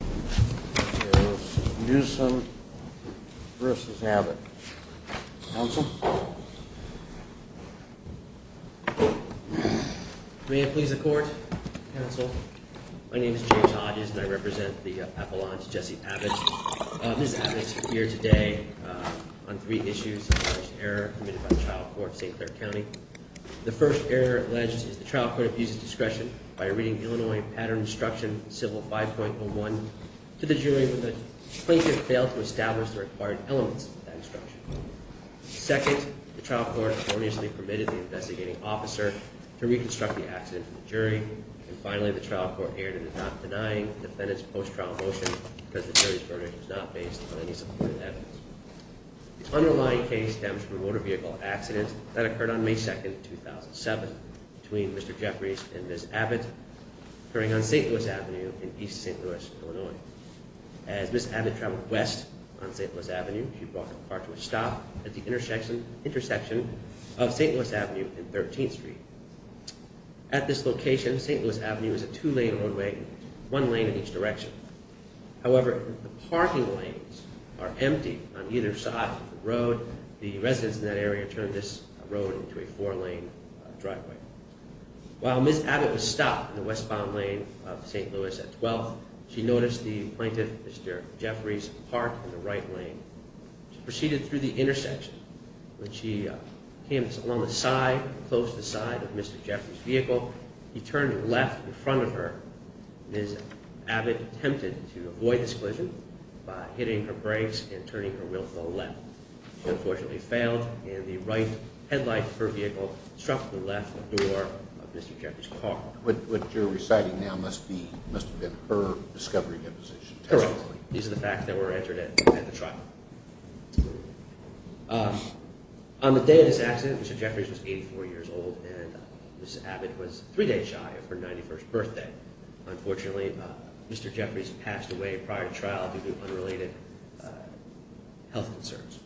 May it please the court, counsel. My name is James Hodges and I represent the Appalachians Jesse Abbott. Ms. Abbott is here today on three issues of alleged error committed by the trial court of St. Clair County. The first error alleged is the trial court abuses discretion by reading Illinois pattern instruction civil 5.01 to the jury with a plaintiff failed to establish the required elements of that instruction. Second, the trial court erroneously permitted the investigating officer to reconstruct the accident to the jury and finally the trial court erred in not denying the defendant's post-trial motion because the jury's verdict was not based on any supported evidence. The underlying case stems from a motor vehicle accident that occurred on May 2nd 2007 between Mr. Jeffries and Ms. Abbott occurring on St. Louis Avenue in East St. Louis, Illinois. As Ms. Abbott traveled west on St. Louis Avenue she brought her car to a stop at the intersection of St. Louis Avenue and 13th Street. At this location St. Louis Avenue is a two-lane roadway, one lane in each direction. However, the parking lanes are empty on either side of the road. The residents in that area turned this road into a four-lane driveway. While Ms. Abbott stopped in the westbound lane of St. Louis at 12th, she noticed the plaintiff, Mr. Jeffries, parked in the right lane. She proceeded through the intersection. When she came along the side, close to the side of Mr. Jeffries' vehicle, he turned left in front of her. Ms. Abbott attempted to avoid this collision by hitting her brakes and turning her wheel to the left. She unfortunately failed and the right headlight of her vehicle struck the left door of Mr. Jeffries' car. What you're reciting now must have been her discovery deposition testimony. Correct. These are the facts that were entered at the trial. On the day of this accident, Mr. Jeffries was 84 years old and Ms. Abbott was three days shy of her 91st birthday. Unfortunately, Mr. Jeffries passed away prior to trial due to unrelated health concerns.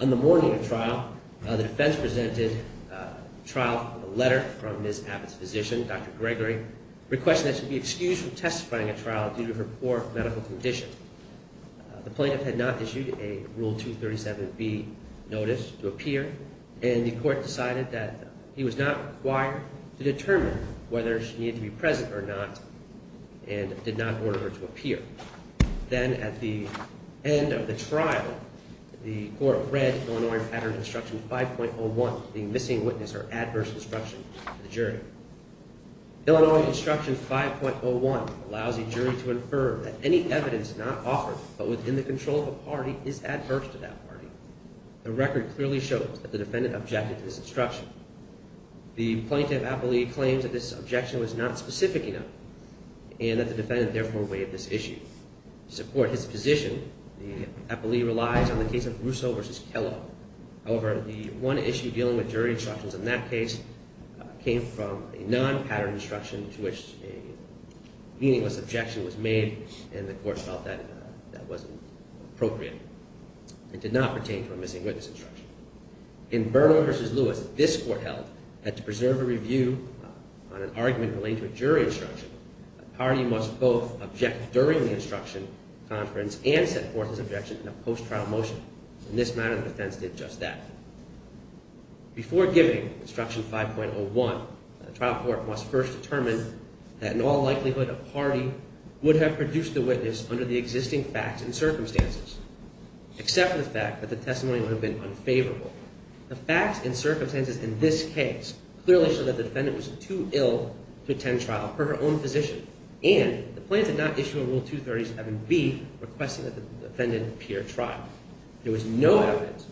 On the morning of trial, the defense presented a trial letter from Ms. Abbott's physician, Dr. Gregory, requesting that she be excused from testifying at trial due to her poor medical condition. The plaintiff had not issued a Rule 237B notice to appear and the court decided that he was not required to determine whether she needed to be present or not and did not order her to appear. Then at the end of the trial, the court read Illinois Pattern Instruction 5.01, the missing witness or adverse instruction to the jury. Illinois Instruction 5.01 allows the jury to infer that any evidence not offered but within the control of a party is adverse to that party. The record clearly shows that the defendant objected to this instruction. The plaintiff appellee claims that this objection was not specific enough and that the defendant therefore waived this issue. To support his position, the appellee relies on the case of Russo v. Kellogg. However, the one issue dealing with jury instructions in that case came from a non-pattern instruction to which a meaningless objection was made and the court felt that that wasn't appropriate. It did not pertain to a missing witness instruction. In Bernal v. Lewis, this court held that to preserve a review on an argument relating to a jury instruction, a party must both object during the instruction, conference, and set forth its objection in a post-trial motion. In this matter, the defense did just that. Before giving Instruction 5.01, the trial court must first determine that in all likelihood a party would have produced the witness under the existing facts and circumstances, except for the fact that the testimony would have been unfavorable. The facts and circumstances in this case clearly show that the defendant was too ill to attend trial per her own position, and the plaintiff did not issue a Rule 230-7b requesting that the defendant appear at trial. There was no evidence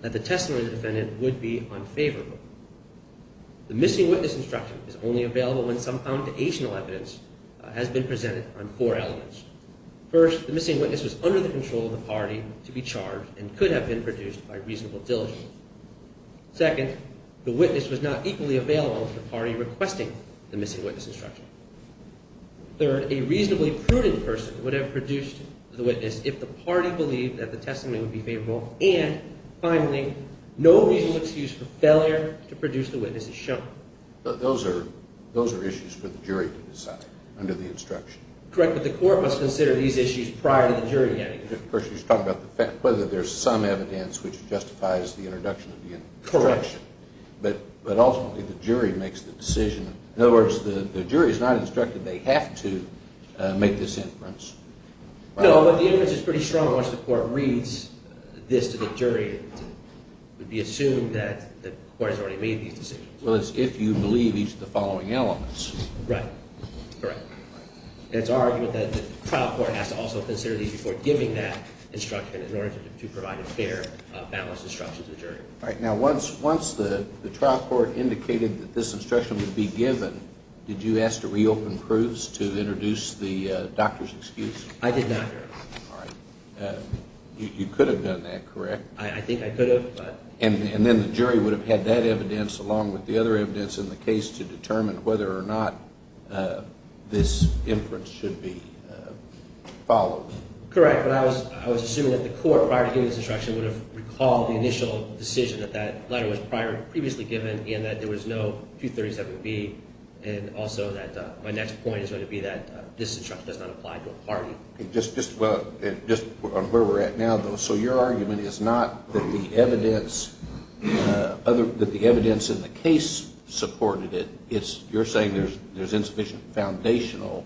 that the testimony of the defendant would be unfavorable. The missing witness instruction is only available when some foundational evidence has been presented on four elements. First, the missing witness was under the control of the party to be charged and could have been produced by reasonable diligence. Second, the witness was not equally available to the party requesting the missing witness instruction. Third, a reasonably prudent person would have produced the witness if the party believed that the testimony would be favorable. And finally, no reasonable excuse for failure to produce the witness is shown. Those are issues for the jury to decide under the instruction. Correct, but the court must consider these issues prior to the jury hearing. Of course, you're talking about whether there's some evidence which justifies the introduction of the instruction. Correct. But ultimately, the jury makes the decision. In other words, the jury is not instructed they have to make this inference. No, but the inference is pretty strong once the court reads this to the jury. It would be assumed that the court has already made these decisions. Well, it's if you believe each of the following elements. Right, correct. And it's our argument that the trial court has to also consider these before giving that instruction in order to provide a fair, balanced instruction to the jury. All right, now once the trial court indicated that this instruction would be given, did you ask to reopen Cruz to introduce the doctor's excuse? I did not, Your Honor. All right. You could have done that, correct? I think I could have. And then the jury would have had that evidence along with the other evidence in the case to determine whether or not this inference should be followed. Correct, but I was assuming that the court, prior to giving this instruction, would have recalled the initial decision that that letter was previously given and that there was no 237B and also that my next point is going to be that this instruction does not apply to a party. Just on where we're at now, though, so your argument is not that the evidence in the case supported it. You're saying there's insufficient foundational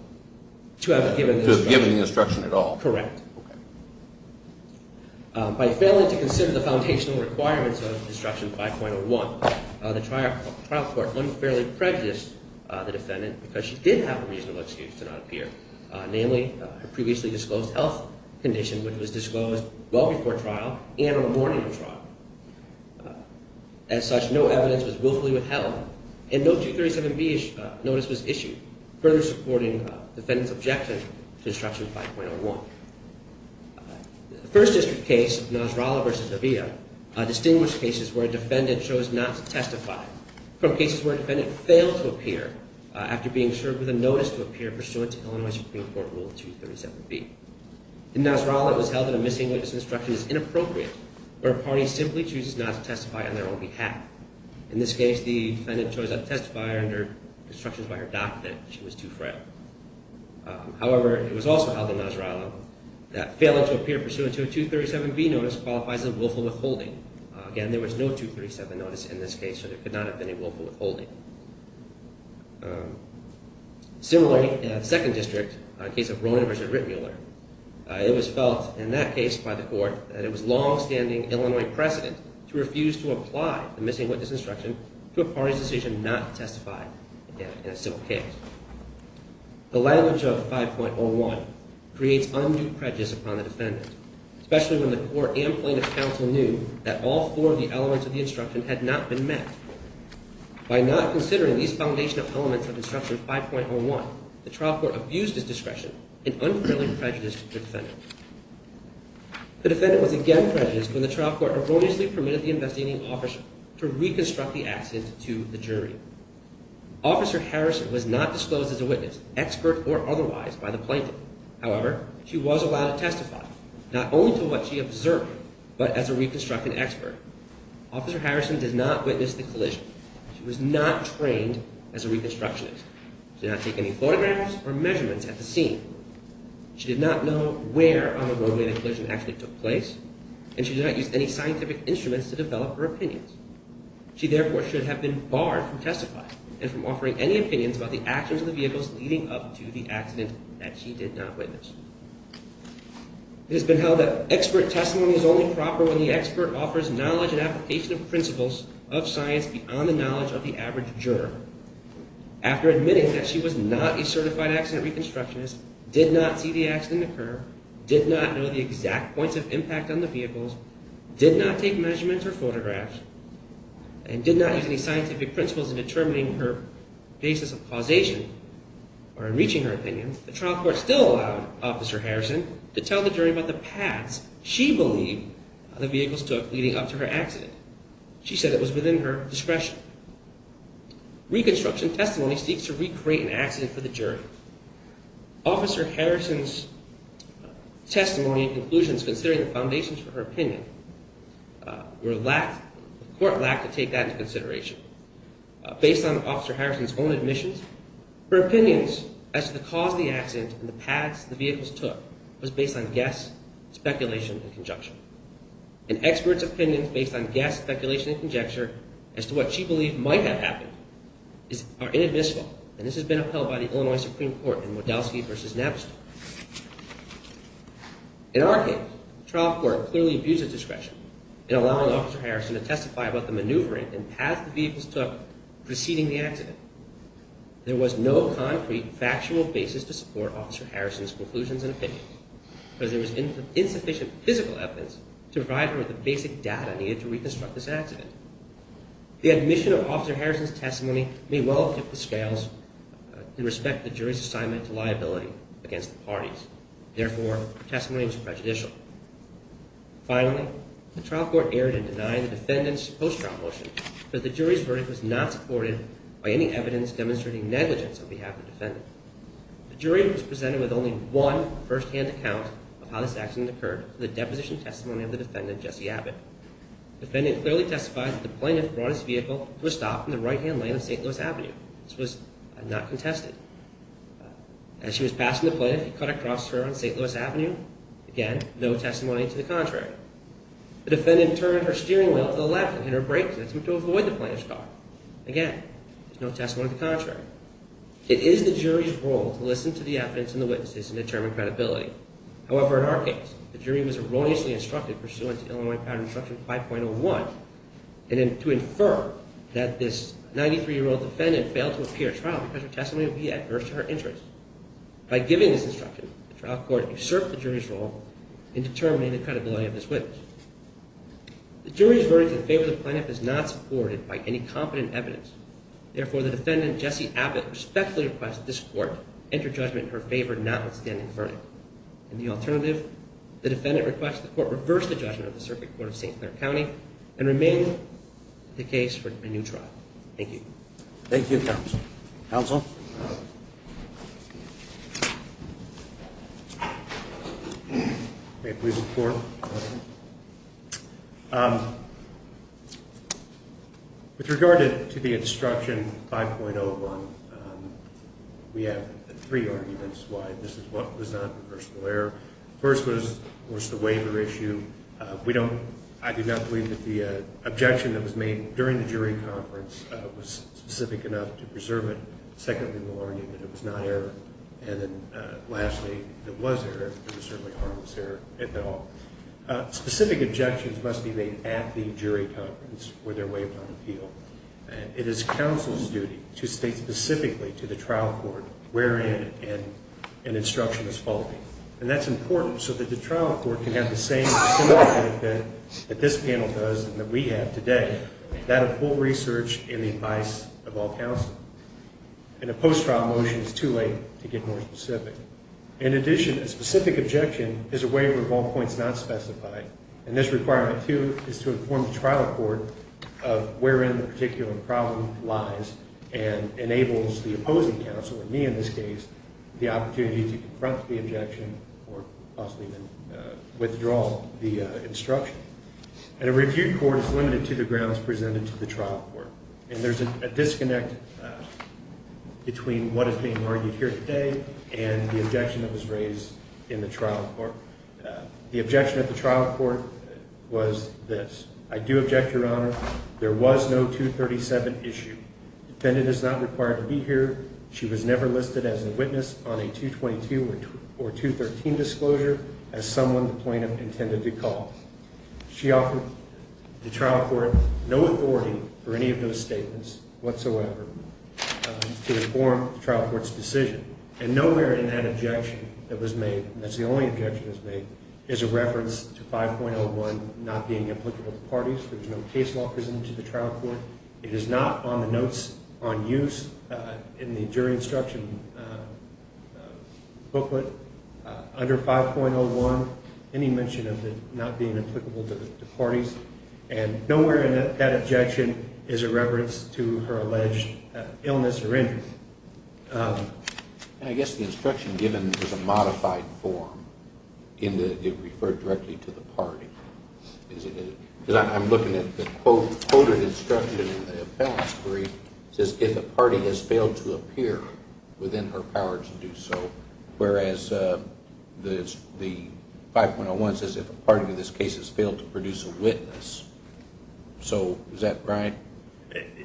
to have given the instruction at all. Correct. By failing to consider the foundational requirements of Instruction 5.01, the trial court unfairly prejudiced the defendant because she did have a reasonable excuse to not appear, namely, her previously disclosed health condition, which was disclosed well before trial and on the morning of trial. As such, no evidence was willfully withheld and no 237B-ish notice was issued, further supporting the defendant's objection to Instruction 5.01. The First District case, Nasrallah v. De Villa, distinguished cases where a defendant chose not to testify from cases where a defendant failed to appear after being served with a notice to appear pursuant to Illinois Supreme Court Rule 237B. In Nasrallah, it was held that a missing witness instruction is inappropriate where a party simply chooses not to testify on their own behalf. In this case, the defendant chose not to testify under instructions by her doctor that she was too frail. However, it was also held in Nasrallah that failing to appear pursuant to a 237B notice qualifies as willful withholding. Again, there was no 237 notice in this case, so there could not have been a willful withholding. Similarly, in the Second District, a case of Rowan v. Rittmuller, it was felt in that case by the court that it was longstanding Illinois precedent to refuse to apply the missing witness instruction to a party's decision not to testify in a civil case. The language of 5.01 creates undue prejudice upon the defendant, especially when the court and plaintiff's counsel knew that all four of the elements of the instruction had not been met. By not considering these foundational elements of instruction 5.01, the trial court abused its discretion and unfairly prejudiced the defendant. The defendant was again prejudiced when the trial court erroneously permitted the investigating officer to reconstruct the accident to the jury. Officer Harrison was not disclosed as a witness, expert or otherwise, by the plaintiff. However, she was allowed to testify, not only to what she observed, but as a reconstructing expert. Officer Harrison did not witness the collision. She was not trained as a reconstructionist. She did not take any photographs or measurements at the scene. She did not know where on the roadway the collision actually took place, and she did not use any scientific instruments to develop her opinions. She therefore should have been barred from testifying and from offering any opinions about the actions of the vehicles leading up to the accident that she did not witness. It has been held that expert testimony is only proper when the expert offers knowledge and application of principles of science beyond the knowledge of the average juror. After admitting that she was not a certified accident reconstructionist, did not see the accident occur, did not know the exact points of impact on the vehicles, did not take measurements or photographs, and did not use any scientific principles in determining her basis of causation or in reaching her opinions, the trial court still allowed Officer Harrison to tell the jury about the paths she believed the vehicles took leading up to her accident. She said it was within her discretion. Reconstruction testimony seeks to recreate an accident for the jury. Officer Harrison's testimony and conclusions considering the foundations for her opinion, the court lacked to take that into consideration. Based on Officer Harrison's own admissions, her opinions as to the cause of the accident and the paths the vehicles took was based on guess, speculation, and conjecture. An expert's opinions based on guess, speculation, and conjecture as to what she believed might have happened are inadmissible, and this has been upheld by the Illinois Supreme Court in Wadowski v. Napster. In our case, the trial court clearly abused its discretion in allowing Officer Harrison to testify about the maneuvering and paths the vehicles took preceding the accident. There was no concrete, factual basis to support Officer Harrison's conclusions and opinions, because there was insufficient physical evidence to provide her with the basic data needed to reconstruct this accident. The admission of Officer Harrison's testimony may well have tipped the scales in respect to the jury's assignment to liability against the parties. Therefore, her testimony was prejudicial. Finally, the trial court erred in denying the defendant's post-trial motion, but the jury's verdict was not supported by any evidence demonstrating negligence on behalf of the defendant. The jury was presented with only one firsthand account of how this accident occurred through the deposition testimony of the defendant, Jesse Abbott. The defendant clearly testified that the plaintiff brought his vehicle to a stop in the right-hand lane of St. Louis Avenue. This was not contested. As she was passing the plaintiff, he cut across her on St. Louis Avenue. Again, no testimony to the contrary. The defendant turned her steering wheel to the left and hit her brakes and attempted to avoid the plaintiff's car. Again, there's no testimony to the contrary. It is the jury's role to listen to the evidence and the witnesses and determine credibility. However, in our case, the jury was erroneously instructed, pursuant to Illinois Patent Instruction 5.01, to infer that this 93-year-old defendant failed to appear at trial because her testimony would be adverse to her interests. By giving this instruction, the trial court usurped the jury's role in determining the credibility of this witness. The jury's verdict in favor of the plaintiff is not supported by any competent evidence. Therefore, the defendant, Jesse Abbott, respectfully requests that this court enter judgment in her favor, notwithstanding the verdict. In the alternative, the defendant requests that the court reverse the judgment of the Circuit Court of St. Clair County and remain the case for a new trial. Thank you. Thank you, Counsel. Counsel? May I please report? Go ahead. With regard to the instruction 5.01, we have three arguments why this was not a personal error. First was, of course, the waiver issue. I do not believe that the objection that was made during the jury conference was specific enough to preserve it. Secondly, the argument that it was not error. And then lastly, it was error, but it was certainly harmless error at all. Specific objections must be made at the jury conference where they're waived on appeal. It is counsel's duty to state specifically to the trial court where in an instruction is faulty. And that's important so that the trial court can have the same similar benefit that this panel does and that we have today, without a full research and the advice of all counsel. And a post-trial motion is too late to get more specific. In addition, a specific objection is a waiver of all points not specified. And this requirement, too, is to inform the trial court of where in the particular problem lies and enables the opposing counsel, or me in this case, the opportunity to confront the objection or possibly even withdraw the instruction. And a review court is limited to the grounds presented to the trial court. And there's a disconnect between what is being argued here today and the objection that was raised in the trial court. The objection at the trial court was this. I do object, Your Honor. There was no 237 issue. Defendant is not required to be here. She was never listed as a witness on a 222 or 213 disclosure as someone the plaintiff intended to call. She offered the trial court no authority for any of those statements whatsoever to inform the trial court's decision. And nowhere in that objection that was made, and that's the only objection that was made, is a reference to 5.01 not being applicable to parties. There's no case law presented to the trial court. It is not on the notes on use in the jury instruction booklet. Under 5.01, any mention of it not being applicable to parties. And nowhere in that objection is a reference to her alleged illness or injury. I guess the instruction given is a modified form. It referred directly to the party. I'm looking at the quoted instruction in the appellate's brief. It says if a party has failed to appear within her power to do so, whereas the 5.01 says if a party in this case has failed to produce a witness. So is that right?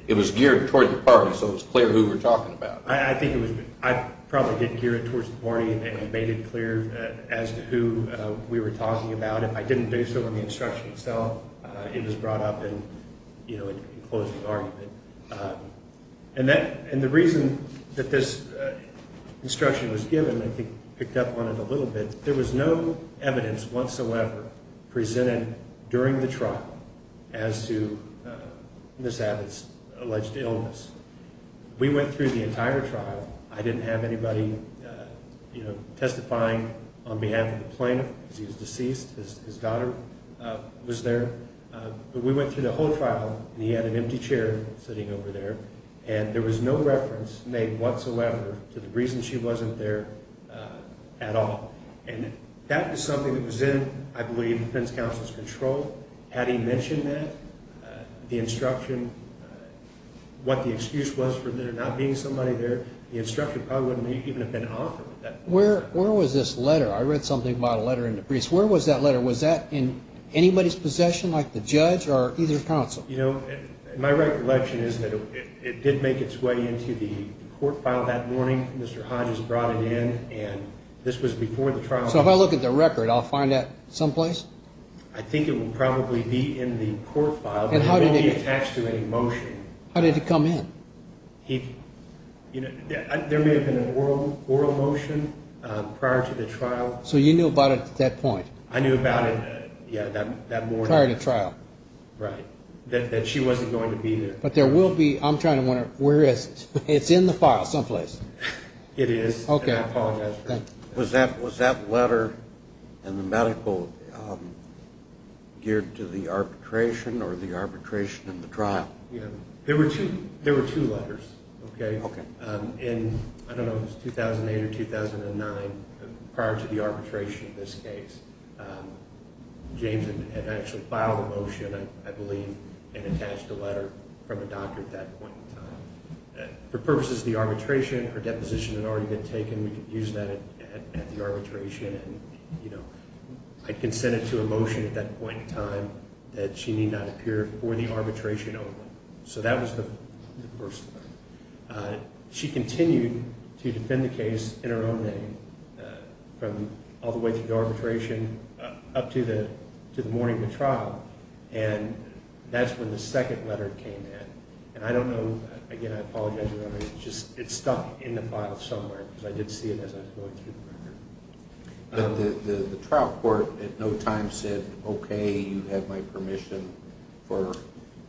It was geared toward the party, so it was clear who we were talking about. I think it was. I probably did gear it towards the party and made it clear as to who we were talking about. If I didn't do so in the instruction itself, it was brought up and, you know, it closed the argument. And the reason that this instruction was given I think picked up on it a little bit. There was no evidence whatsoever presented during the trial as to Ms. Abbott's alleged illness. We went through the entire trial. I didn't have anybody, you know, testifying on behalf of the plaintiff because he was deceased. His daughter was there. But we went through the whole trial, and he had an empty chair sitting over there, and there was no reference made whatsoever to the reason she wasn't there at all. And that was something that was in, I believe, the defense counsel's control. Had he mentioned that, the instruction, what the excuse was for there not being somebody there, the instruction probably wouldn't even have been offered at that point. Where was this letter? I read something about a letter in the briefs. Where was that letter? Was that in anybody's possession, like the judge or either counsel? You know, my recollection is that it did make its way into the court file that morning. Mr. Hodges brought it in, and this was before the trial. So if I look at the record, I'll find that someplace? I think it will probably be in the court file, but it won't be attached to any motion. How did it come in? There may have been an oral motion prior to the trial. So you knew about it at that point? I knew about it, yeah, that morning. Prior to trial. Right. That she wasn't going to be there. But there will be, I'm trying to wonder, where is it? It's in the file someplace. It is, and I apologize for that. Was that letter in the medical geared to the arbitration or the arbitration in the trial? Yeah. There were two letters, okay? Okay. In, I don't know if it was 2008 or 2009, prior to the arbitration of this case, James had actually filed a motion, I believe, and attached a letter from a doctor at that point in time. For purposes of the arbitration, her deposition had already been taken. We could use that at the arbitration, and, you know, I consented to a motion at that point in time that she need not appear for the arbitration only. So that was the first one. She continued to defend the case in her own name from all the way through the arbitration up to the morning of the trial. And that's when the second letter came in. And I don't know, again, I apologize for that. It's just, it's stuck in the file somewhere because I did see it as I was going through the record. The trial court at no time said, okay, you have my permission for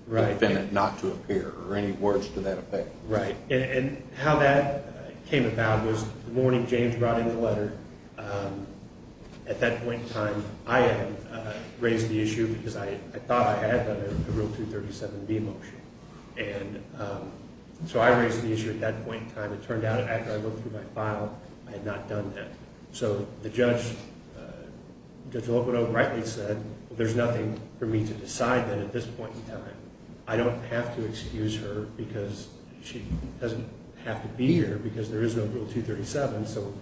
the defendant not to appear, or any words to that effect. Right. And how that came about was the morning James brought in the letter, at that point in time, I had raised the issue because I thought I had, but I wrote through 37B motion. And so I raised the issue at that point in time. But it turned out after I looked through my file, I had not done that. So the judge, Judge Locodoco rightly said, there's nothing for me to decide then at this point in time. I don't have to excuse her because she doesn't have to be here because there is no Rule 237. So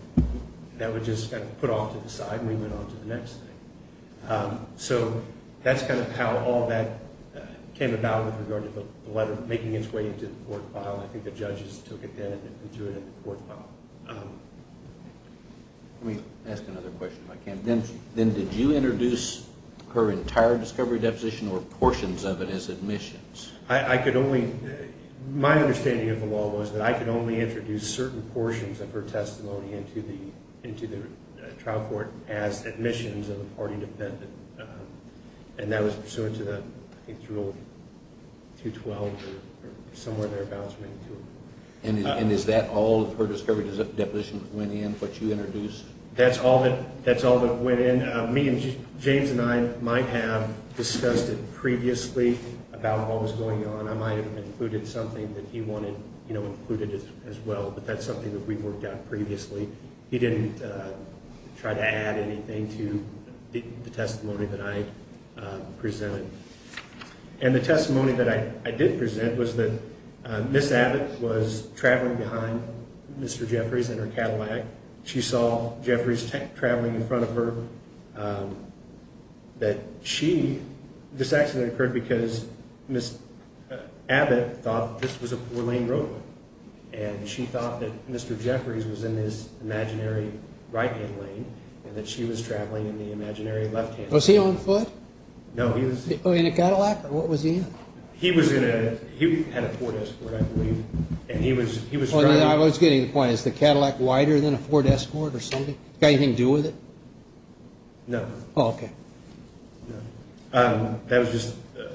that was just kind of put off to the side and we went on to the next thing. So that's kind of how all that came about with regard to the letter making its way into the court file. I think the judges took it then and threw it in the court file. Let me ask another question if I can. Then did you introduce her entire discovery deposition or portions of it as admissions? I could only, my understanding of the law was that I could only introduce certain portions of her testimony into the trial court as admissions of a party defendant. And that was pursuant to the Rule 212 or somewhere thereabouts. And is that all of her discovery deposition that went in, what you introduced? That's all that went in. Me and James and I might have discussed it previously about what was going on. I might have included something that he wanted included as well. But that's something that we worked out previously. He didn't try to add anything to the testimony that I presented. And the testimony that I did present was that Ms. Abbott was traveling behind Mr. Jeffries in her Cadillac. She saw Jeffries traveling in front of her. This accident occurred because Ms. Abbott thought this was a four-lane road. And she thought that Mr. Jeffries was in this imaginary right-hand lane and that she was traveling in the imaginary left-hand lane. Was he on foot? No, he was... In a Cadillac or what was he in? He was in a, he had a four-desk board, I believe, and he was driving... I was getting the point. Is the Cadillac wider than a four-desk board or something? Got anything to do with it? No. Oh, okay. No. That was just, that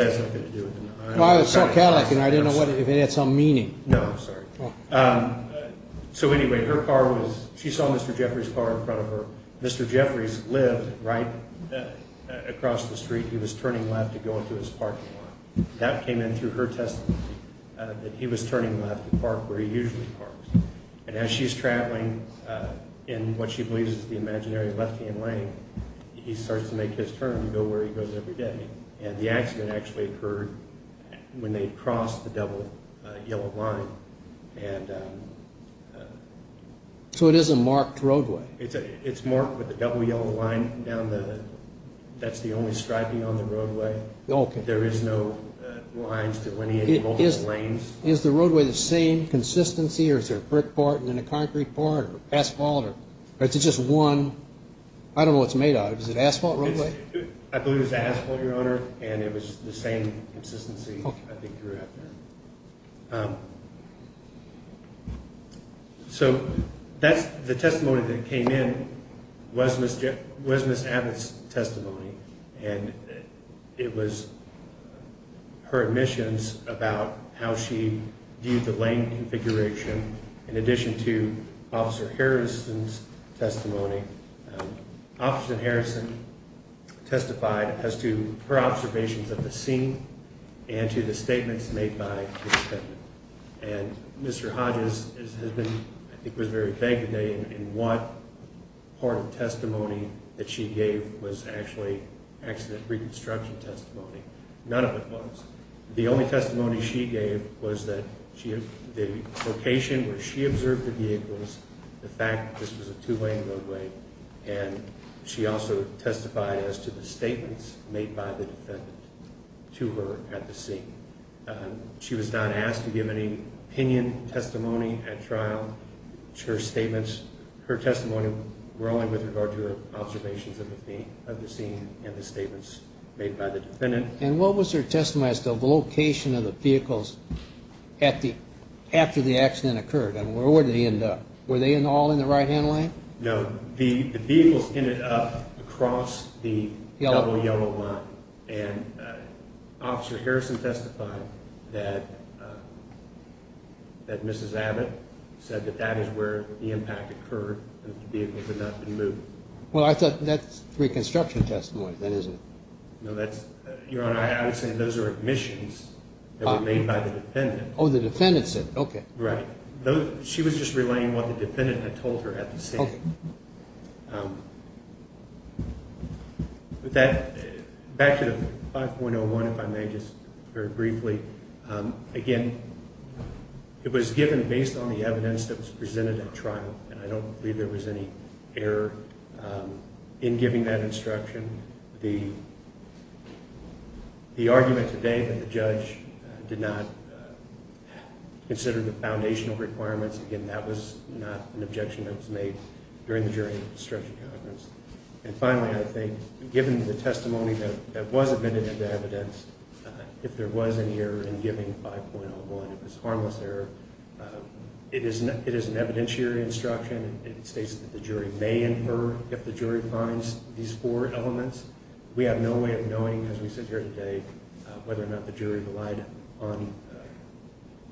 has nothing to do with it. Well, I saw a Cadillac and I didn't know if it had some meaning. No, sorry. So anyway, her car was, she saw Mr. Jeffries' car in front of her. Mr. Jeffries lived right across the street. He was turning left to go into his parking lot. That came in through her testimony, that he was turning left to park where he usually parks. And as she's traveling in what she believes is the imaginary left-hand lane, he starts to make his turn to go where he goes every day. And the accident actually occurred when they crossed the double yellow line. And... So it is a marked roadway. It's marked with a double yellow line down the, that's the only striping on the roadway. Okay. There is no lines delineating multiple lanes. Is the roadway the same consistency or is there a brick part and then a concrete part or asphalt? Or is it just one, I don't know what it's made out of. Is it asphalt roadway? I believe it's asphalt, Your Honor. And it was the same consistency, I think, throughout there. So that's the testimony that came in was Ms. Abbott's testimony. And it was her admissions about how she viewed the lane configuration in addition to Officer Harrison's testimony. Officer Harrison testified as to her observations of the scene and to the statements made by Ms. Abbott. And Mr. Hodges has been, I think, was very vague today in what part of testimony that she gave was actually accident reconstruction testimony. None of it was. The only testimony she gave was that the location where she observed the vehicles, the fact that this was a two-lane roadway. And she also testified as to the statements made by the defendant to her at the scene. She was not asked to give any opinion testimony at trial. Her statements, her testimony were only with regard to her observations of the scene and the statements made by the defendant. And what was her testimony as to the location of the vehicles after the accident occurred? Where did they end up? Were they all in the right-hand lane? No, the vehicles ended up across the double yellow line. And Officer Harrison testified that Ms. Abbott said that that is where the impact occurred and that the vehicles had not been moved. Well, I thought that's reconstruction testimony, then, isn't it? No, Your Honor, I would say those are admissions that were made by the defendant. Oh, the defendant said it, okay. Right. She was just relaying what the defendant had told her at the scene. Back to the 5.01, if I may, just very briefly. Again, it was given based on the evidence that was presented at trial, and I don't believe there was any error in giving that instruction. The argument today that the judge did not consider the foundational requirements, again, that was not an objection that was made during the jury instruction conference. And finally, I think, given the testimony that was admitted into evidence, if there was any error in giving 5.01, if it was a harmless error, it is an evidentiary instruction. It states that the jury may infer if the jury finds these four elements. We have no way of knowing, as we sit here today, whether or not the jury relied on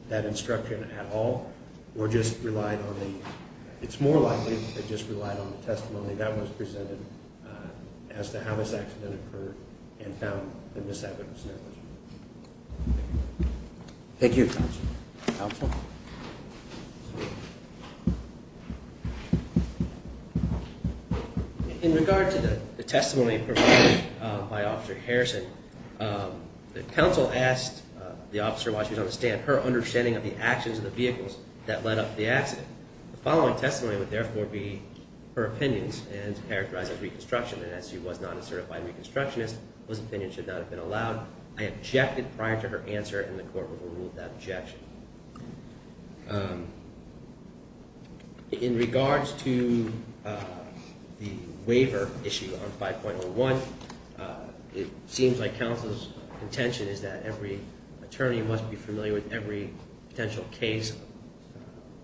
that instruction at all or just relied on the it's more likely they just relied on the testimony that was presented as to how this accident occurred and found the misadvice there was. Thank you, counsel. In regard to the testimony provided by Officer Harrison, the counsel asked the officer why she didn't understand her understanding of the actions of the vehicles that led up to the accident. The following testimony would therefore be her opinions and characterize as reconstruction, and as she was not a certified reconstructionist, those opinions should not have been allowed. I objected prior to her answer, and the court will rule that objection. In regards to the waiver issue on 5.01, it seems like counsel's intention is that every attorney must be familiar with every potential case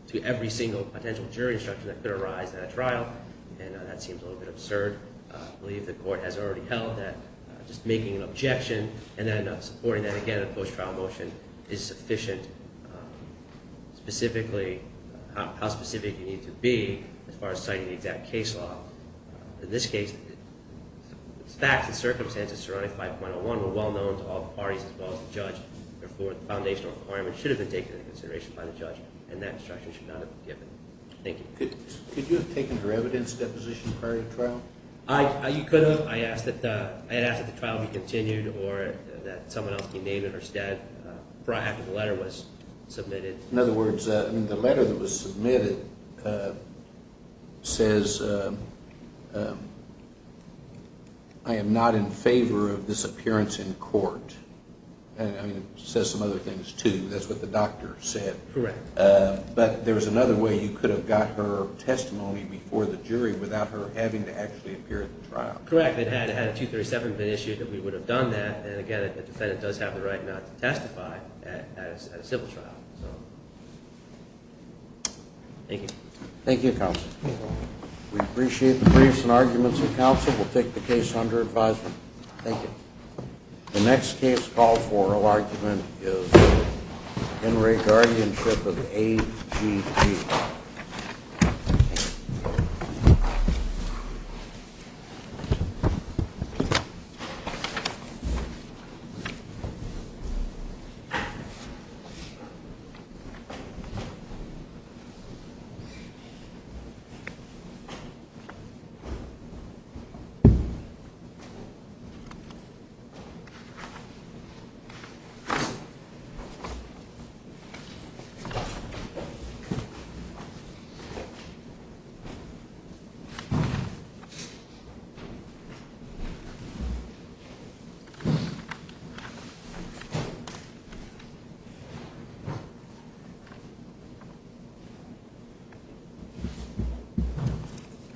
to every single potential jury instruction that could arise at a trial, and that seems a little bit absurd. I believe the court has already held that just making an objection and then supporting that again in a post-trial motion is sufficient. Specifically, how specific you need to be as far as citing the exact case law. In this case, the facts and circumstances surrounding 5.01 were well known to all parties as well as the judge. Therefore, the foundational requirement should have been taken into consideration by the judge, and that instruction should not have been given. Thank you. Could you have taken her evidence deposition prior to the trial? You could have. I asked that the trial be continued or that someone else be named instead. I'm happy the letter was submitted. In other words, the letter that was submitted says, I am not in favor of this appearance in court. It says some other things, too. That's what the doctor said. Correct. But there was another way you could have got her testimony before the jury without her having to actually appear at the trial. Correct. It had a 237 been issued that we would have done that, and, again, the defendant does have the right not to testify at a civil trial. Thank you. Thank you, counsel. We appreciate the briefs and arguments of counsel. We'll take the case under advisement. Thank you. The next case called for argument is Henry Guardianship of the AGP.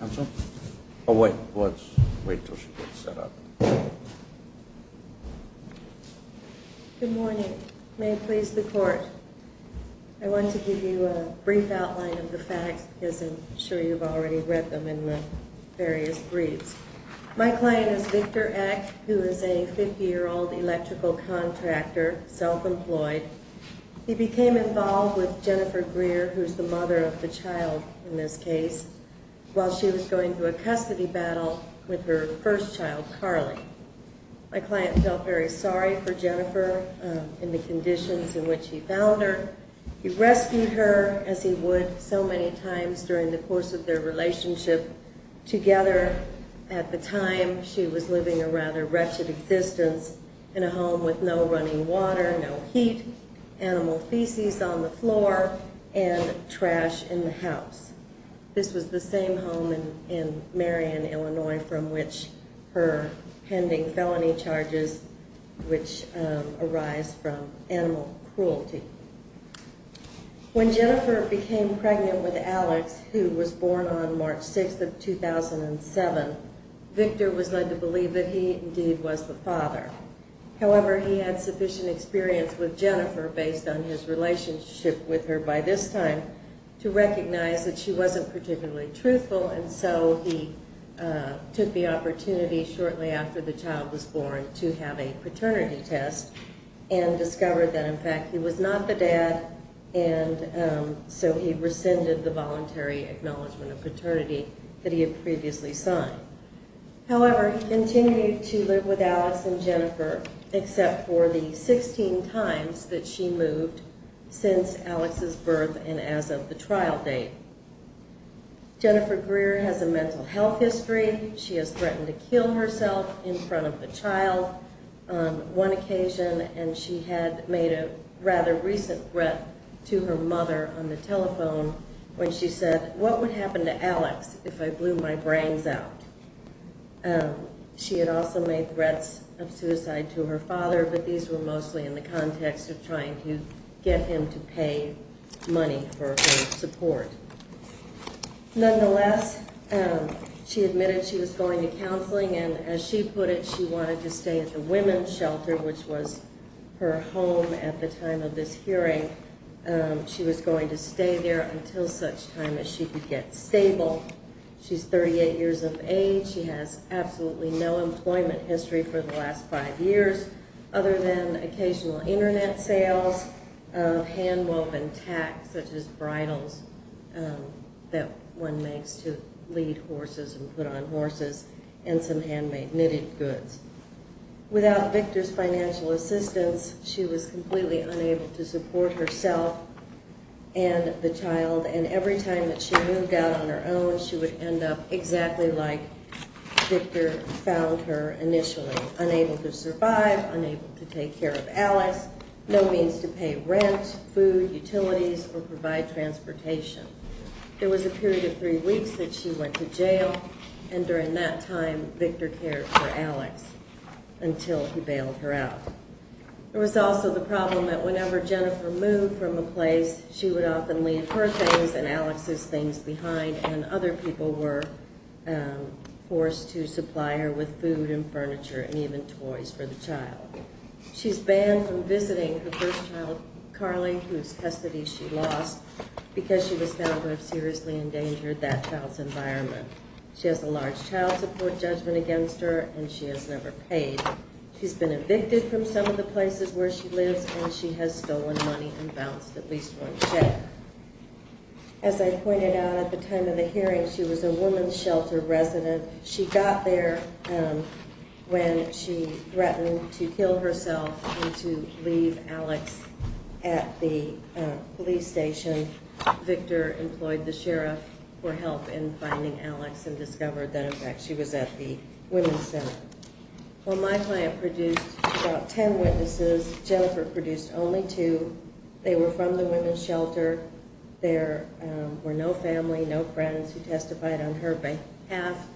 Counsel? Oh, wait. Let's wait until she gets set up. Good morning. May it please the court. I want to give you a brief outline of the facts because I'm sure you've already read them in the various briefs. My client is Victor Eck, who is a 50-year-old electrical contractor, self-employed. He became involved with Jennifer Greer, who's the mother of the child in this case, while she was going through a custody battle with her first child, Carly. My client felt very sorry for Jennifer in the conditions in which he found her. He rescued her as he would so many times during the course of their relationship. Together, at the time, she was living a rather wretched existence in a home with no running water, no heat, animal feces on the floor, and trash in the house. This was the same home in Marion, Illinois, from which her pending felony charges, which arise from animal cruelty. When Jennifer became pregnant with Alex, who was born on March 6th of 2007, Victor was led to believe that he indeed was the father. However, he had sufficient experience with Jennifer, based on his relationship with her by this time, to recognize that she wasn't particularly truthful, and so he took the opportunity shortly after the child was born to have a paternity test and discovered that, in fact, he was not the dad, and so he rescinded the voluntary acknowledgment of paternity that he had previously signed. However, he continued to live with Alex and Jennifer, except for the 16 times that she moved since Alex's birth and as of the trial date. Jennifer Greer has a mental health history. She has threatened to kill herself in front of the child on one occasion, and she had made a rather recent threat to her mother on the telephone when she said, what would happen to Alex if I blew my brains out? She had also made threats of suicide to her father, but these were mostly in the context of trying to get him to pay money for her support. Nonetheless, she admitted she was going to counseling, and as she put it, she wanted to stay at the women's shelter, which was her home at the time of this hearing. She was going to stay there until such time as she could get stable. She's 38 years of age. She has absolutely no employment history for the last five years, other than occasional Internet sales, hand-woven tacks, such as bridles that one makes to lead horses and put on horses, and some handmade knitted goods. Without Victor's financial assistance, she was completely unable to support herself and the child, and every time that she moved out on her own, she would end up exactly like Victor found her initially, unable to survive, unable to take care of Alex, no means to pay rent, food, utilities, or provide transportation. It was a period of three weeks that she went to jail, and during that time, Victor cared for Alex until he bailed her out. There was also the problem that whenever Jennifer moved from a place, she would often leave her things and Alex's things behind, and other people were forced to supply her with food and furniture and even toys for the child. She's banned from visiting her first child, Carly, whose custody she lost, because she was found to have seriously endangered that child's environment. She has a large child support judgment against her, and she has never paid. She's been evicted from some of the places where she lives, and she has stolen money and bounced at least one check. As I pointed out at the time of the hearing, she was a woman's shelter resident. She got there when she threatened to kill herself and to leave Alex at the police station. Victor employed the sheriff for help in finding Alex and discovered that, in fact, she was at the women's center. While my client produced about ten witnesses, Jennifer produced only two. They were from the women's shelter. There were no family, no friends who testified on her behalf.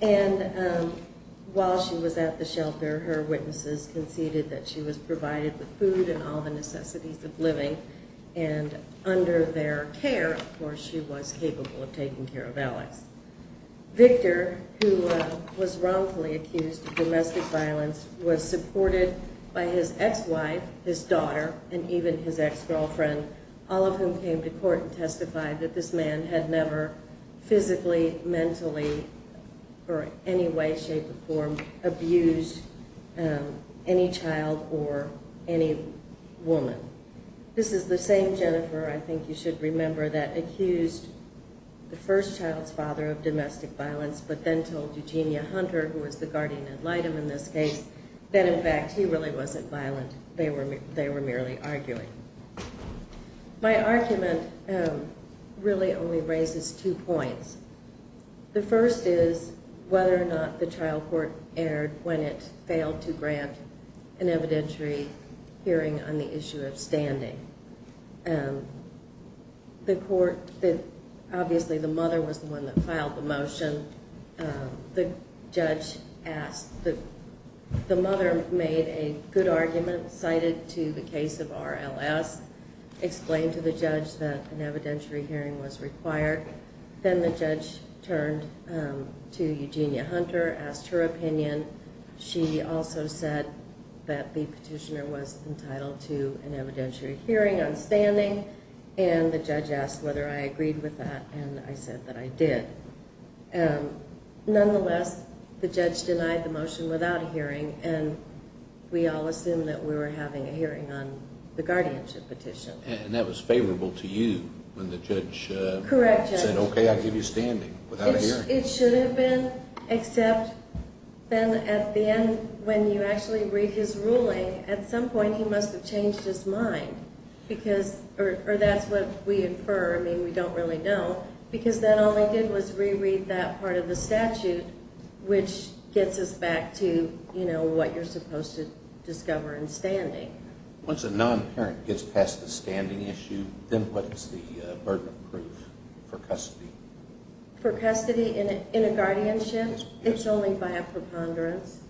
And while she was at the shelter, her witnesses conceded that she was provided with food and all the necessities of living. And under their care, of course, she was capable of taking care of Alex. Victor, who was wrongfully accused of domestic violence, was supported by his ex-wife, his daughter, and even his ex-girlfriend, all of whom came to court and testified that this man had never physically, mentally, or in any way, shape, or form abused any child or any woman. This is the same Jennifer, I think you should remember, that accused the first child's father of domestic violence but then told Eugenia Hunter, who was the guardian ad litem in this case, that in fact he really wasn't violent. They were merely arguing. My argument really only raises two points. The first is whether or not the trial court erred when it failed to grant an evidentiary hearing on the issue of standing. Obviously, the mother was the one that filed the motion. The mother made a good argument, cited to the case of RLS, explained to the judge that an evidentiary hearing was required. Then the judge turned to Eugenia Hunter, asked her opinion. She also said that the petitioner was entitled to an evidentiary hearing on standing. The judge asked whether I agreed with that, and I said that I did. Nonetheless, the judge denied the motion without a hearing, and we all assumed that we were having a hearing on the guardianship petition. That was favorable to you when the judge said, okay, I'll give you standing without a hearing. It should have been, except then at the end, when you actually read his ruling, at some point he must have changed his mind. Or that's what we infer. I mean, we don't really know. Because then all he did was reread that part of the statute, which gets us back to what you're supposed to discover in standing. Once a non-parent gets past the standing issue, then what is the burden of proof for custody? For custody in a guardianship, it's only by a preponderance.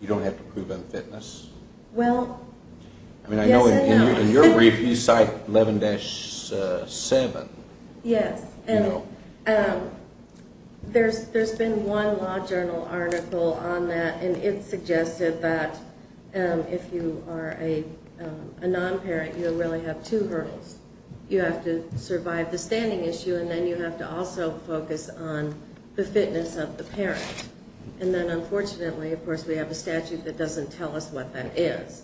You don't have to prove unfitness? Well, yes and no. I mean, I know in your brief you cite 11-7. Yes, and there's been one law journal article on that, and it suggested that if you are a non-parent, you really have two hurdles. You have to survive the standing issue, and then you have to also focus on the fitness of the parent. And then unfortunately, of course, we have a statute that doesn't tell us what that is.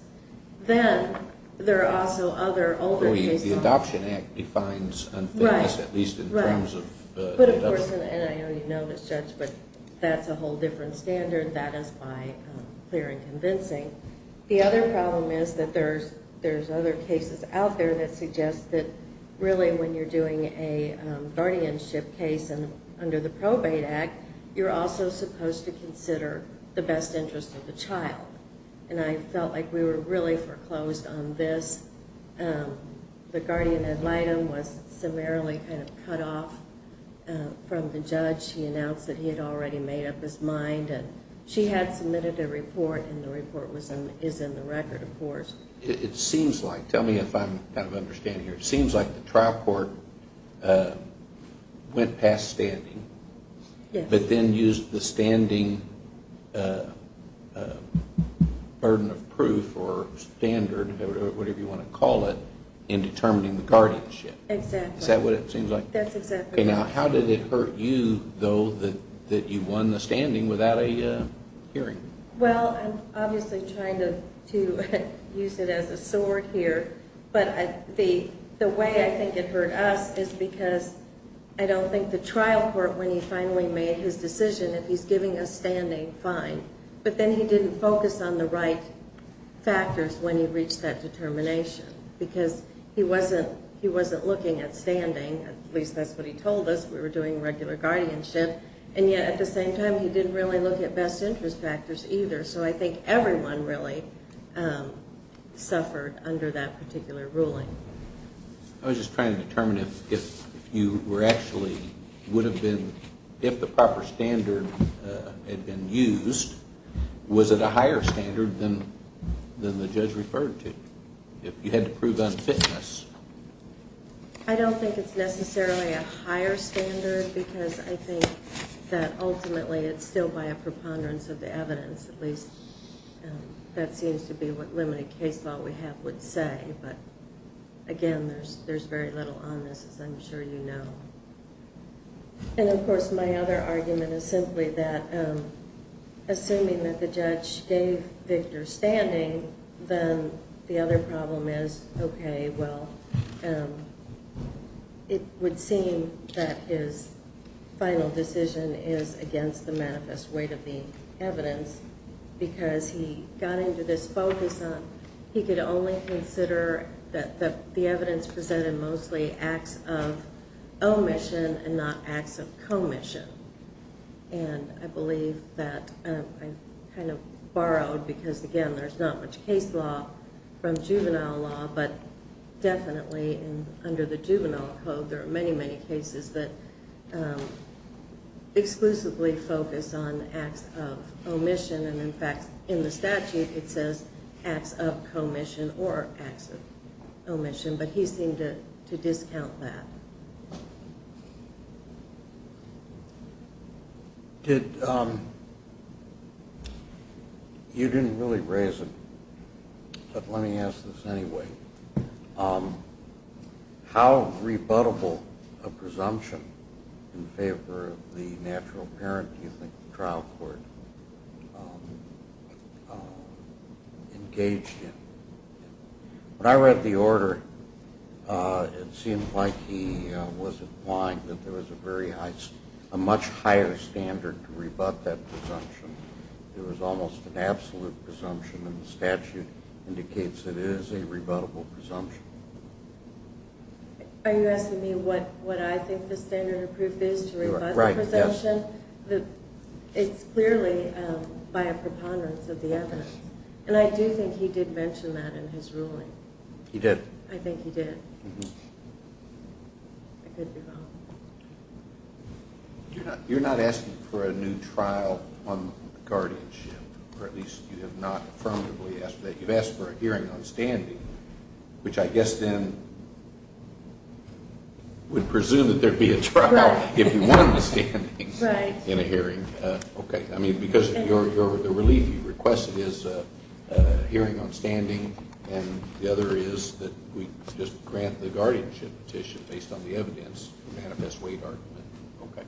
Then there are also other older cases. The Adoption Act defines unfitness, at least in terms of adoption. Right, but of course, and I know you know this, Judge, but that's a whole different standard. That is why it's clear and convincing. The other problem is that there's other cases out there that suggest that really when you're doing a guardianship case and under the Probate Act, you're also supposed to consider the best interest of the child. And I felt like we were really foreclosed on this. The guardian ad litem was summarily kind of cut off from the judge. He announced that he had already made up his mind, and she had submitted a report, and the report is in the record, of course. It seems like, tell me if I'm kind of understanding here, it seems like the trial court went past standing, but then used the standing burden of proof or standard or whatever you want to call it in determining the guardianship. Exactly. Is that what it seems like? That's exactly right. Okay, now how did it hurt you, though, that you won the standing without a hearing? Well, I'm obviously trying to use it as a sword here, but the way I think it hurt us is because I don't think the trial court, when he finally made his decision that he's giving us standing, fine, but then he didn't focus on the right factors when he reached that determination because he wasn't looking at standing. At least that's what he told us. We were doing regular guardianship, and yet at the same time he didn't really look at best interest factors either, so I think everyone really suffered under that particular ruling. I was just trying to determine if you were actually, would have been, if the proper standard had been used, was it a higher standard than the judge referred to if you had to prove unfitness? I don't think it's necessarily a higher standard because I think that ultimately it's still by a preponderance of the evidence, at least that seems to be what limited case law we have would say, but, again, there's very little on this, as I'm sure you know. And, of course, my other argument is simply that assuming that the judge gave Victor standing, then the other problem is, okay, well, it would seem that his final decision is against the manifest weight of the evidence because he got into this focus on he could only consider that the evidence presented mostly acts of omission and not acts of commission, and I believe that I kind of borrowed because, again, there's not much case law from juvenile law, but definitely under the juvenile code there are many, many cases that exclusively focus on acts of omission, and, in fact, in the statute it says acts of commission or acts of omission, but he seemed to discount that. You didn't really raise it, but let me ask this anyway. How rebuttable a presumption in favor of the natural parent do you think the trial court engaged in? When I read the order, it seemed like he was implying that there was a much higher standard to rebut that presumption. There was almost an absolute presumption, and the statute indicates that it is a rebuttable presumption. Are you asking me what I think the standard of proof is to rebut the presumption? Right, yes. It's clearly by a preponderance of the evidence, and I do think he did mention that in his ruling. He did? I think he did. I could be wrong. You're not asking for a new trial on guardianship, or at least you have not affirmatively asked for that. Which I guess then would presume that there would be a trial if you won the standings in a hearing. Okay. I mean, because the relief you requested is a hearing on standing, and the other is that we just grant the guardianship petition based on the evidence to manifest weight argument. Okay.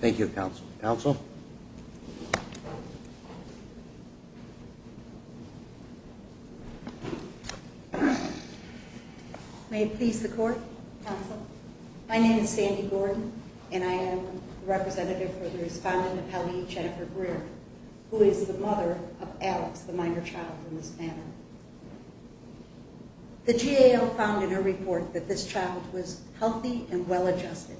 Thank you. Thank you, Counsel. Counsel? May it please the Court, Counsel? My name is Sandy Gordon, and I am the representative for the respondent of Hallie Jennifer Greer, who is the mother of Alex, the minor child from this family. The GAL found in her report that this child was healthy and well-adjusted.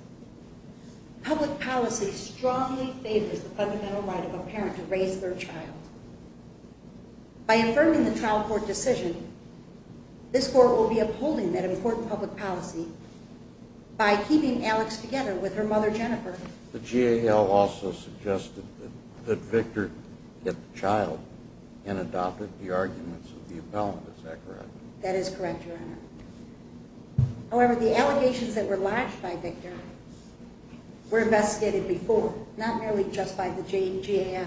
Public policy strongly favors the fundamental right of a parent to raise their child. By affirming the trial court decision, this Court will be upholding that important public policy by keeping Alex together with her mother Jennifer. The GAL also suggested that Victor get the child and adopted the arguments of the appellant. Is that correct? That is correct, Your Honor. However, the allegations that were latched by Victor were investigated before, not merely just by the GAL.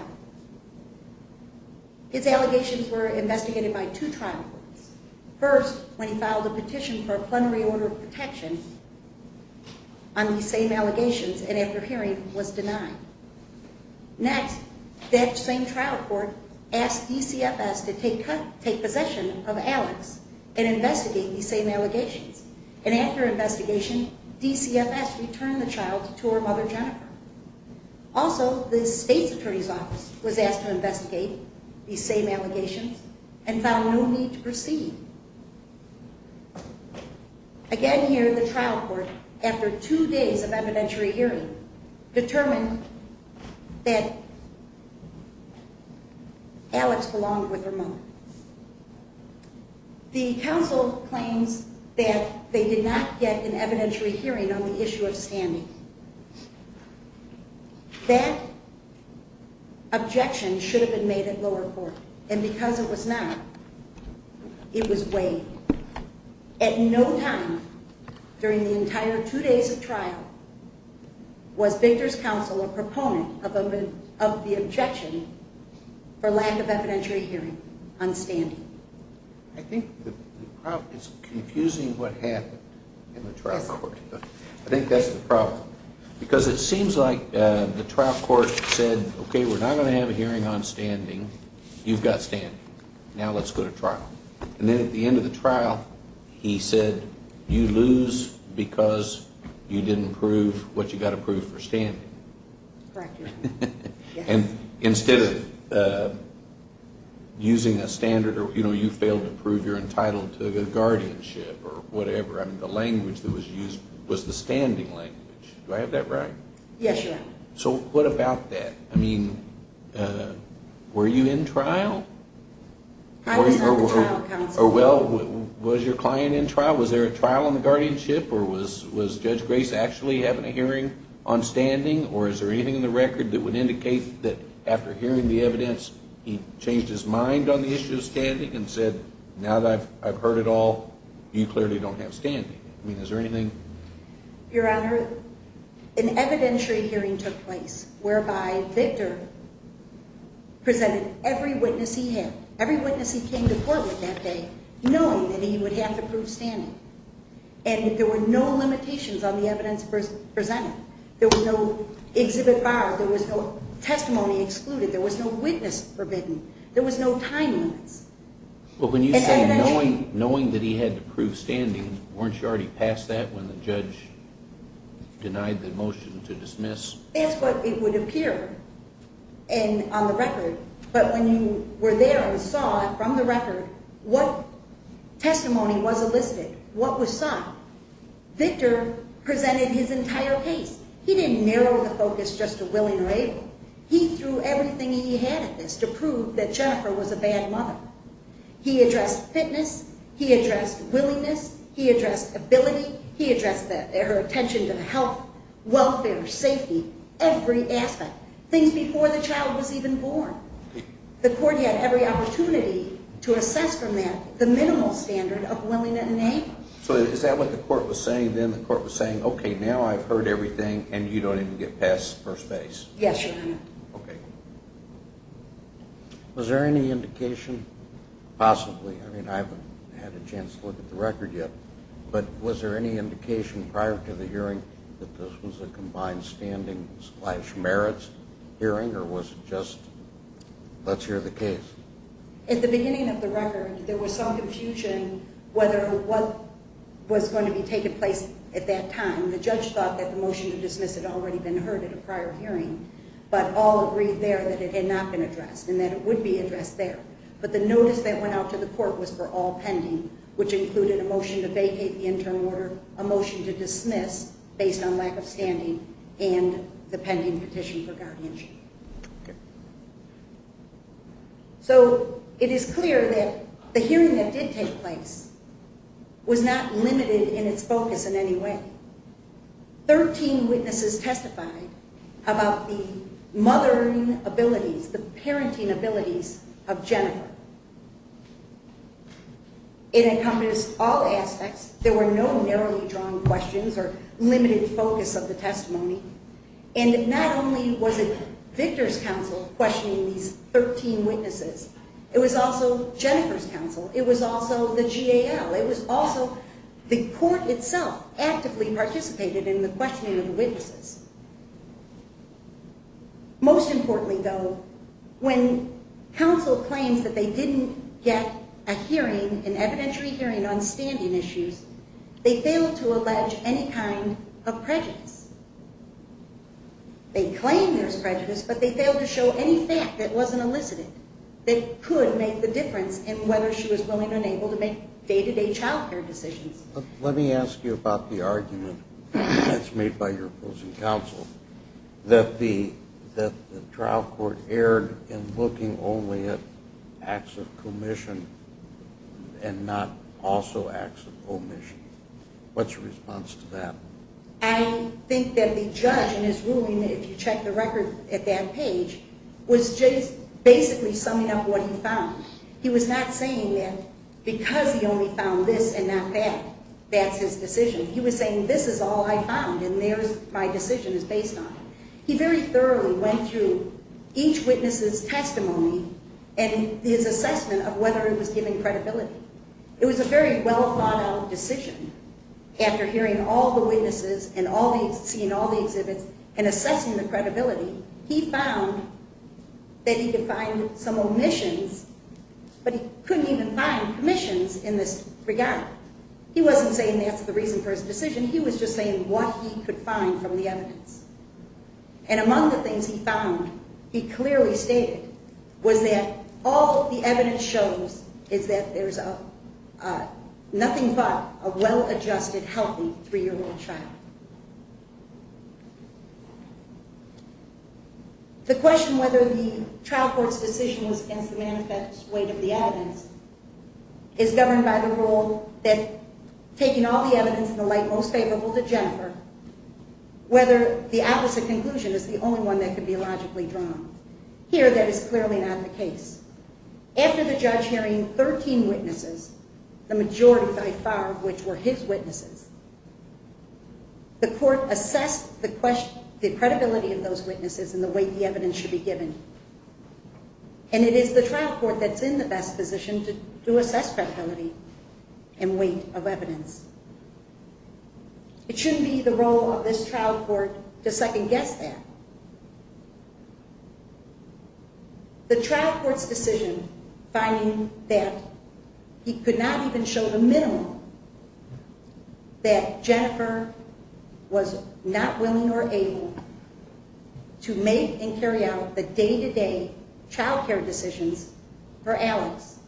His allegations were investigated by two trial courts. First, when he filed a petition for a plenary order of protection on these same allegations, and after hearing, was denied. Next, that same trial court asked DCFS to take possession of Alex and investigate these same allegations. And after investigation, DCFS returned the child to her mother Jennifer. Also, the State's Attorney's Office was asked to investigate these same allegations and found no need to proceed. Again here, the trial court, after two days of evidentiary hearing, determined that Alex belonged with her mother. The counsel claims that they did not get an evidentiary hearing on the issue of standing. That objection should have been made at lower court, and because it was not, it was waived. At no time during the entire two days of trial was Victor's counsel a proponent of the objection for lack of evidentiary hearing on standing. I think it's confusing what happened in the trial court. I think that's the problem. Because it seems like the trial court said, okay, we're not going to have a hearing on standing. You've got standing. Now let's go to trial. And then at the end of the trial, he said, you lose because you didn't prove what you got approved for standing. Correct. And instead of using a standard, you know, you failed to prove you're entitled to the guardianship or whatever. I mean, the language that was used was the standing language. Do I have that right? Yes, you have. So what about that? I mean, were you in trial? I was on the trial counsel. Well, was your client in trial? Was there a trial on the guardianship, or was Judge Grace actually having a hearing on standing, or is there anything in the record that would indicate that after hearing the evidence, he changed his mind on the issue of standing and said, now that I've heard it all, you clearly don't have standing. I mean, is there anything? Your Honor, an evidentiary hearing took place whereby Victor presented every witness he had, every witness he came to court with that day, knowing that he would have to prove standing. And there were no limitations on the evidence presented. There was no exhibit bar. There was no testimony excluded. There was no witness forbidden. There was no time limits. Well, when you say knowing that he had to prove standing, weren't you already past that when the judge denied the motion to dismiss? That's what it would appear on the record. But when you were there and saw from the record what testimony was elicited, what was sought, Victor presented his entire case. He didn't narrow the focus just to willing or able. He threw everything he had at this to prove that Jennifer was a bad mother. He addressed fitness. He addressed willingness. He addressed ability. He addressed her attention to health, welfare, safety, every aspect, things before the child was even born. The court had every opportunity to assess from that the minimal standard of willingness and able. So is that what the court was saying then? The court was saying, okay, now I've heard everything, and you don't even get passed first base? Yes, Your Honor. Okay. Was there any indication possibly, I mean, I haven't had a chance to look at the record yet, but was there any indication prior to the hearing that this was a combined standing-slash-merits hearing, or was it just let's hear the case? At the beginning of the record, there was some confusion whether what was going to be taking place at that time. The judge thought that the motion to dismiss had already been heard at a prior hearing, but all agreed there that it had not been addressed and that it would be addressed there. But the notice that went out to the court was for all pending, which included a motion to vacate the interim order, a motion to dismiss based on lack of standing, and the pending petition for guardianship. So it is clear that the hearing that did take place was not limited in its focus in any way. Thirteen witnesses testified about the mothering abilities, the parenting abilities of Jennifer. It encompassed all aspects. There were no narrowly drawn questions or limited focus of the testimony. And not only was it Victor's counsel questioning these 13 witnesses, it was also Jennifer's counsel. It was also the GAL. It was also the court itself actively participated in the questioning of the witnesses. Most importantly, though, when counsel claims that they didn't get a hearing, an evidentiary hearing on standing issues, they failed to allege any kind of prejudice. They claim there's prejudice, but they failed to show any fact that wasn't elicited that could make the difference in whether she was willing or unable to make day-to-day child care decisions. Let me ask you about the argument that's made by your opposing counsel, that the trial court erred in looking only at acts of commission and not also acts of omission. What's your response to that? I think that the judge in his ruling, if you check the record at that page, was just basically summing up what he found. He was not saying that because he only found this and not that, that's his decision. He was saying this is all I found, and my decision is based on it. He very thoroughly went through each witness's testimony and his assessment of whether it was given credibility. It was a very well-thought-out decision. After hearing all the witnesses and seeing all the exhibits and assessing the credibility, he found that he could find some omissions, but he couldn't even find commissions in this regard. He wasn't saying that's the reason for his decision. He was just saying what he could find from the evidence. And among the things he found, he clearly stated, was that all the evidence shows is that there's nothing but a well-adjusted, healthy 3-year-old child. The question whether the trial court's decision was against the manifest weight of the evidence is governed by the rule that taking all the evidence in the light most favorable to Jennifer, whether the opposite conclusion is the only one that could be logically drawn. Here, that is clearly not the case. After the judge hearing 13 witnesses, the majority by far of which were his witnesses, the court assessed the credibility of those witnesses and the weight the evidence should be given. And it is the trial court that's in the best position to assess credibility and weight of evidence. It shouldn't be the role of this trial court to second-guess that. The trial court's decision finding that he could not even show the minimum that Jennifer was not willing or able to make and carry out the day-to-day child care decisions for Alex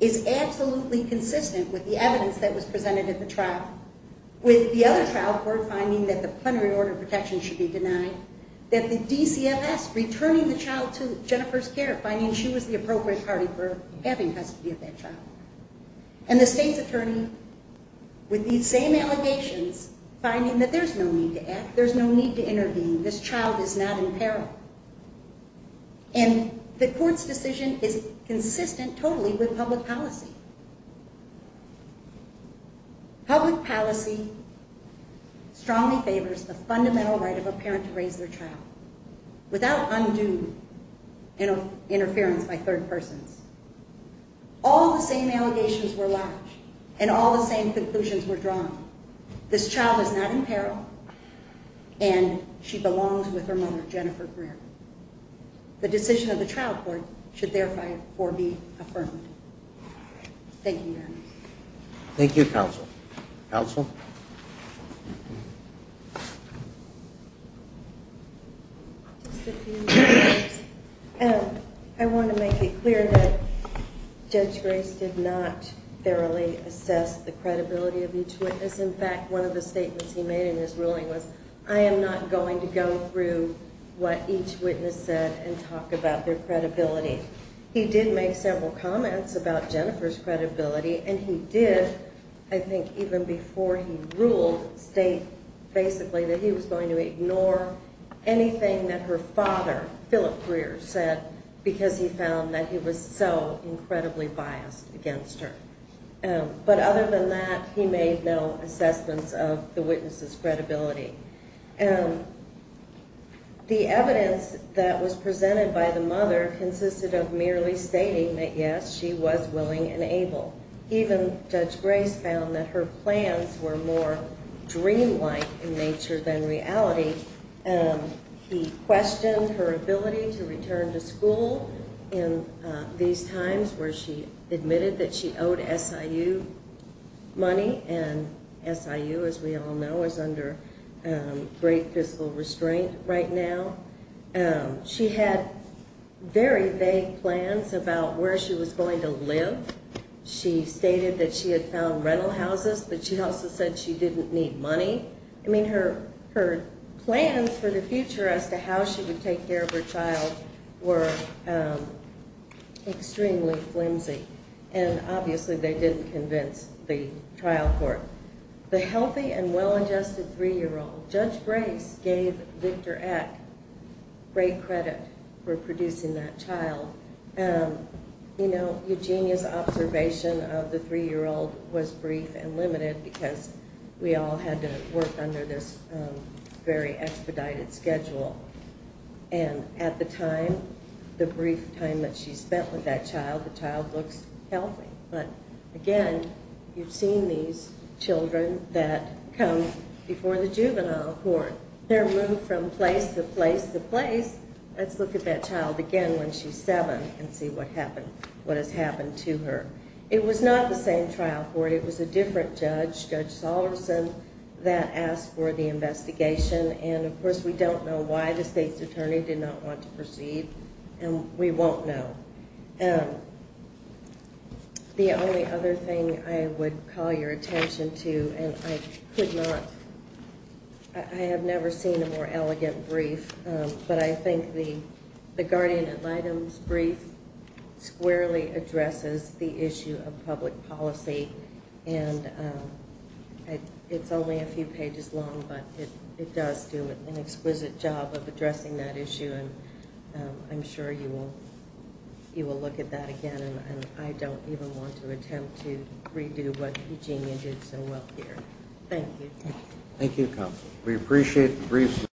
is absolutely consistent with the evidence that was presented at the trial. With the other trial court finding that the plenary order of protection should be denied, that the DCFS returning the child to Jennifer's care, finding she was the appropriate party for having custody of that child, and the state's attorney with these same allegations finding that there's no need to act, there's no need to intervene, this child is not in peril. And the court's decision is consistent totally with public policy. Public policy strongly favors the fundamental right of a parent to raise their child without undue interference by third persons. All the same allegations were lodged and all the same conclusions were drawn. This child is not in peril and she belongs with her mother, Jennifer Graham. The decision of the trial court should therefore be affirmed. Thank you, Your Honor. Thank you, counsel. Counsel? I want to make it clear that Judge Grace did not thoroughly assess the credibility of each witness. In fact, one of the statements he made in his ruling was, I am not going to go through what each witness said and talk about their credibility. He did make several comments about Jennifer's credibility, and he did, I think even before he ruled, state basically that he was going to ignore anything that her father, Phillip Greer, said, because he found that he was so incredibly biased against her. But other than that, he made no assessments of the witness's credibility. The evidence that was presented by the mother consisted of merely stating that, yes, she was willing and able. Even Judge Grace found that her plans were more dreamlike in nature than reality. He questioned her ability to return to school in these times where she admitted that she owed SIU money, and SIU, as we all know, is under great fiscal restraint right now. She had very vague plans about where she was going to live. She stated that she had found rental houses, but she also said she didn't need money. I mean, her plans for the future as to how she would take care of her child were extremely flimsy, and obviously they didn't convince the trial court. The healthy and well-adjusted three-year-old, Judge Grace, gave Victor Eck great credit for producing that child. You know, Eugenia's observation of the three-year-old was brief and limited because we all had to work under this very expedited schedule. And at the time, the brief time that she spent with that child, the child looks healthy. But again, you've seen these children that come before the juvenile court. They're moved from place to place to place. Let's look at that child again when she's seven and see what has happened to her. It was not the same trial court. It was a different judge, Judge Sollerson, that asked for the investigation. And, of course, we don't know why the state's attorney did not want to proceed, and we won't know. The only other thing I would call your attention to, and I could not, I have never seen a more elegant brief, but I think the guardian ad litem's brief squarely addresses the issue of public policy. And it's only a few pages long, but it does do an exquisite job of addressing that issue. And I'm sure you will look at that again. And I don't even want to attempt to redo what Eugenia did so well here. Thank you. We appreciate the briefs.